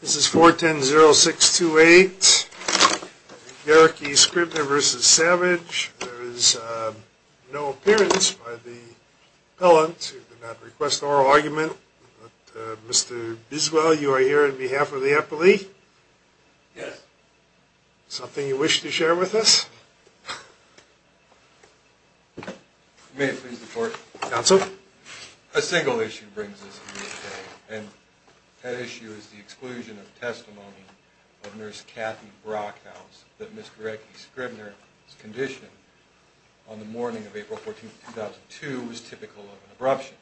This is 410-0628, Gerecke-Scribner v. Savage. There is no appearance by the appellant who did not request an oral argument. Mr. Biswell, you are here on behalf of the appellee? Yes. Something you wish to share with us? May I please report? Counsel. A single issue brings us here today, and that issue is the exclusion of testimony of Nurse Kathy Brockhouse that Mr. Gerecke-Scribner's condition on the morning of April 14, 2002 was typical of an abruption.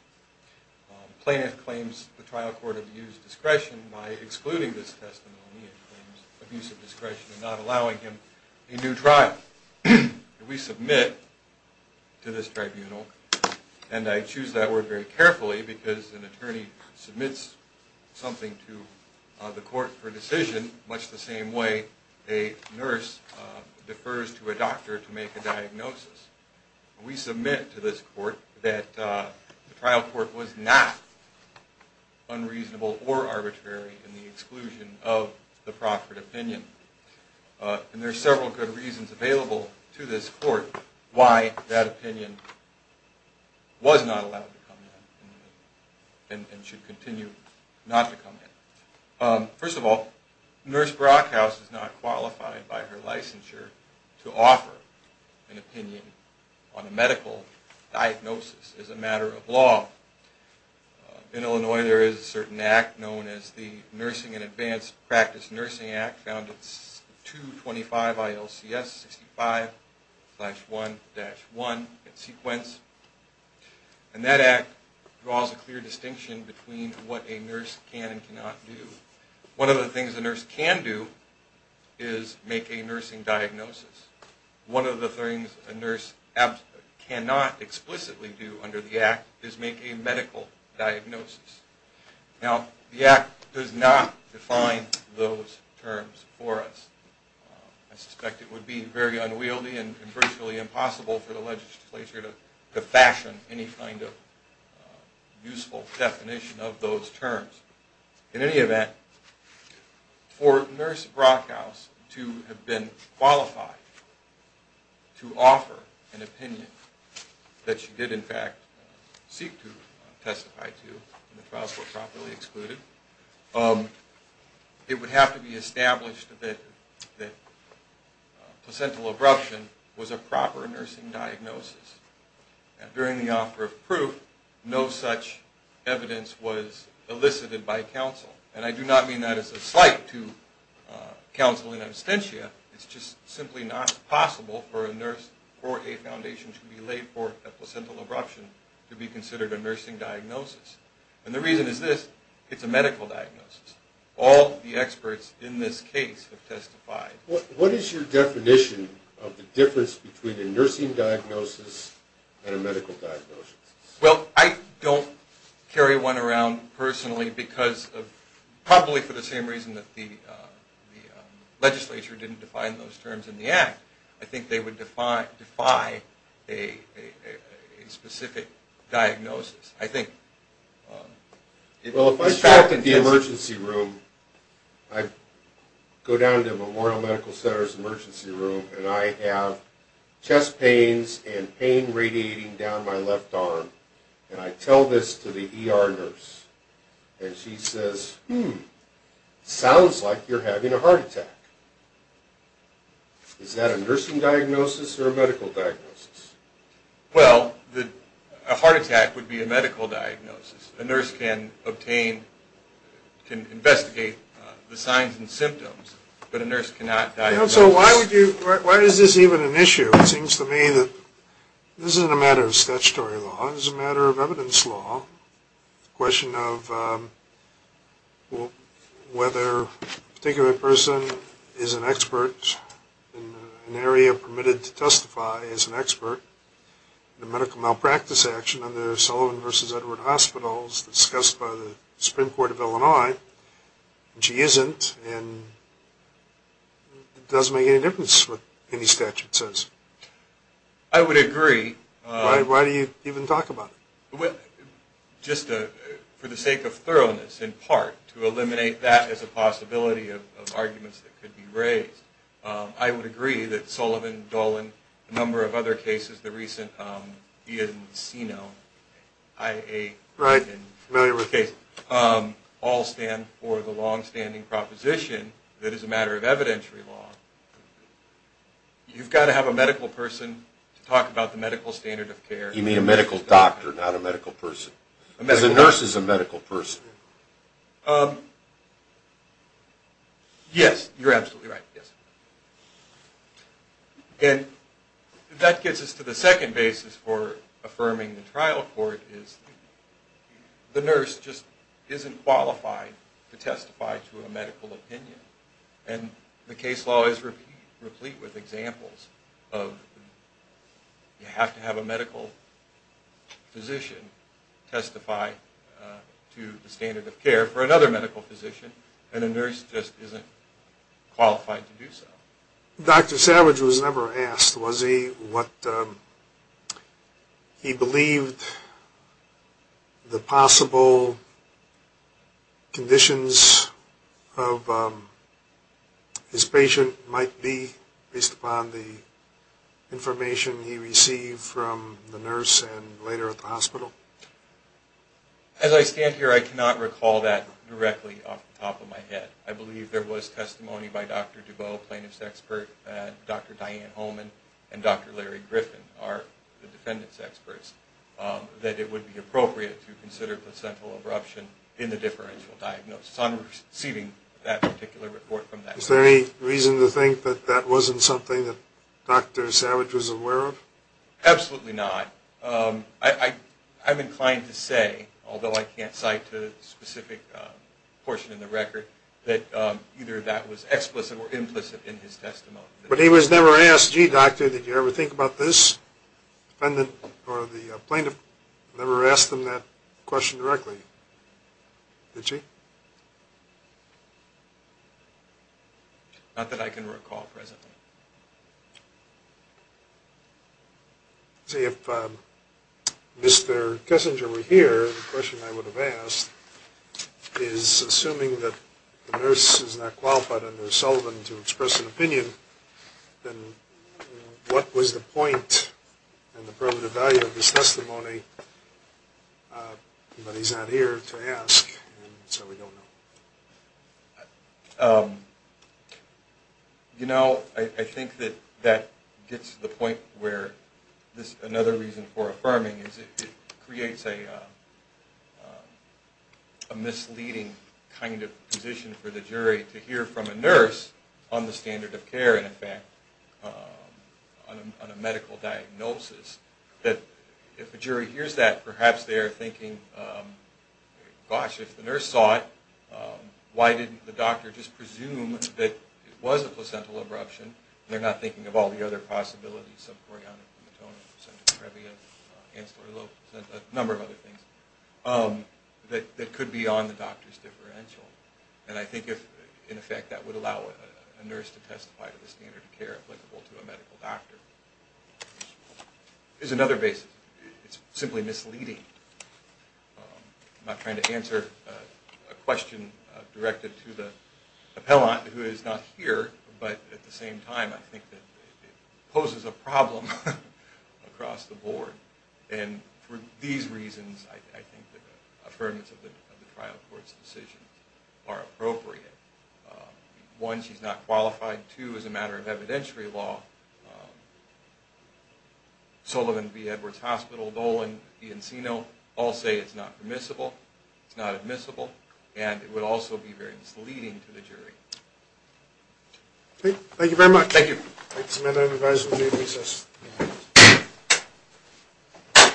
The plaintiff claims the trial court abused discretion by excluding this testimony and claims abuse of discretion in not allowing him a new trial. We submit to this tribunal, and I choose that word very carefully because an attorney submits something to the court for decision much the same way a nurse defers to a doctor to make a diagnosis. We submit to this court that the trial court was not unreasonable or arbitrary in the exclusion of the proffered opinion. There are several good reasons available to this court why that opinion was not allowed to come in and should continue not to come in. First of all, Nurse Brockhouse is not qualified by her licensure to offer an opinion on a medical diagnosis as a matter of law. In Illinois, there is a certain act known as the Nursing and Advanced Practice Nursing Act, found at 225 ILCS 65-1-1 in sequence. And that act draws a clear distinction between what a nurse can and cannot do. One of the things a nurse can do is make a nursing diagnosis. One of the things a nurse cannot explicitly do under the act is make a medical diagnosis. Now, the act does not define those terms for us. I suspect it would be very unwieldy and virtually impossible for the legislature to fashion any kind of useful definition of those terms. In any event, for Nurse Brockhouse to have been qualified to offer an opinion that she did in fact seek to testify to in the trial court properly excluded, it would have to be established that placental abruption was a proper nursing diagnosis. During the offer of proof, no such evidence was elicited by counsel. And I do not mean that as a slight to counsel in absentia. It's just simply not possible for a nurse or a foundation to be laid for a placental abruption to be considered a nursing diagnosis. And the reason is this. It's a medical diagnosis. All the experts in this case have testified. What is your definition of the difference between a nursing diagnosis and a medical diagnosis? Well, I don't carry one around personally because of probably for the same reason that the legislature didn't define those terms in the act. I think they would defy a specific diagnosis. Well, if I show up in the emergency room, I go down to Memorial Medical Center's emergency room, and I have chest pains and pain radiating down my left arm, and I tell this to the ER nurse, and she says, hmm, sounds like you're having a heart attack. Is that a nursing diagnosis or a medical diagnosis? Well, a heart attack would be a medical diagnosis. A nurse can investigate the signs and symptoms, but a nurse cannot diagnose. So why is this even an issue? It seems to me that this isn't a matter of statutory law. This is a matter of evidence law. The question of whether a particular person is an expert in an area permitted to testify is an expert. The medical malpractice action under Sullivan v. Edward Hospital is discussed by the Supreme Court of Illinois, and she isn't, and it doesn't make any difference what any statute says. I would agree. Why do you even talk about it? Just for the sake of thoroughness, in part, to eliminate that as a possibility of arguments that could be raised. I would agree that Sullivan, Dolan, a number of other cases, the recent Ian Sinow IA case, all stand for the longstanding proposition that it's a matter of evidentiary law. You've got to have a medical person to talk about the medical standard of care. You mean a medical doctor, not a medical person. A medical doctor. Because a nurse is a medical person. Yes, you're absolutely right, yes. And that gets us to the second basis for affirming the trial court, is the nurse just isn't qualified to testify to a medical opinion. And the case law is replete with examples of you have to have a medical physician testify to the standard of care for another medical physician, and a nurse just isn't qualified to do so. Dr. Savage was never asked, was he, what he believed the possible conditions of his patient might be, based upon the information he received from the nurse and later at the hospital? As I stand here, I cannot recall that directly off the top of my head. I believe there was testimony by Dr. Dubow, plaintiff's expert, and Dr. Diane Holman, and Dr. Larry Griffin are the defendant's experts, that it would be appropriate to consider placental abruption in the differential diagnosis. I'm receiving that particular report from that. Is there any reason to think that that wasn't something that Dr. Savage was aware of? Absolutely not. I'm inclined to say, although I can't cite a specific portion in the record, that either that was explicit or implicit in his testimony. But he was never asked, gee, doctor, did you ever think about this? The defendant or the plaintiff never asked him that question directly, did she? Not that I can recall presently. If Mr. Kessinger were here, the question I would have asked is, assuming that the nurse is not qualified under Sullivan to express an opinion, then what was the point and the primitive value of this testimony, but he's not here to ask, so we don't know. You know, I think that that gets to the point where another reason for affirming is it creates a misleading kind of position for the jury to hear from a nurse on the standard of care, and in fact on a medical diagnosis, that if a jury hears that, perhaps they are thinking, gosh, if the nurse saw it, why didn't the doctor just presume that it was a placental abruption, and they're not thinking of all the other possibilities, subchorionic, hematoma, placenta previa, ancillary low placenta, a number of other things, that could be on the doctor's differential. And I think in effect that would allow a nurse to testify to the standard of care applicable to a medical doctor. Here's another basis. It's simply misleading. I'm not trying to answer a question directed to the appellant who is not here, but at the same time I think that it poses a problem across the board, and for these reasons I think the affirmance of the trial court's decision are appropriate. One, she's not qualified. Two, as a matter of evidentiary law, Sullivan v. Edwards Hospital, Dolan v. Encino, all say it's not permissible, it's not admissible, and it would also be very misleading to the jury. Thank you very much. Thank you.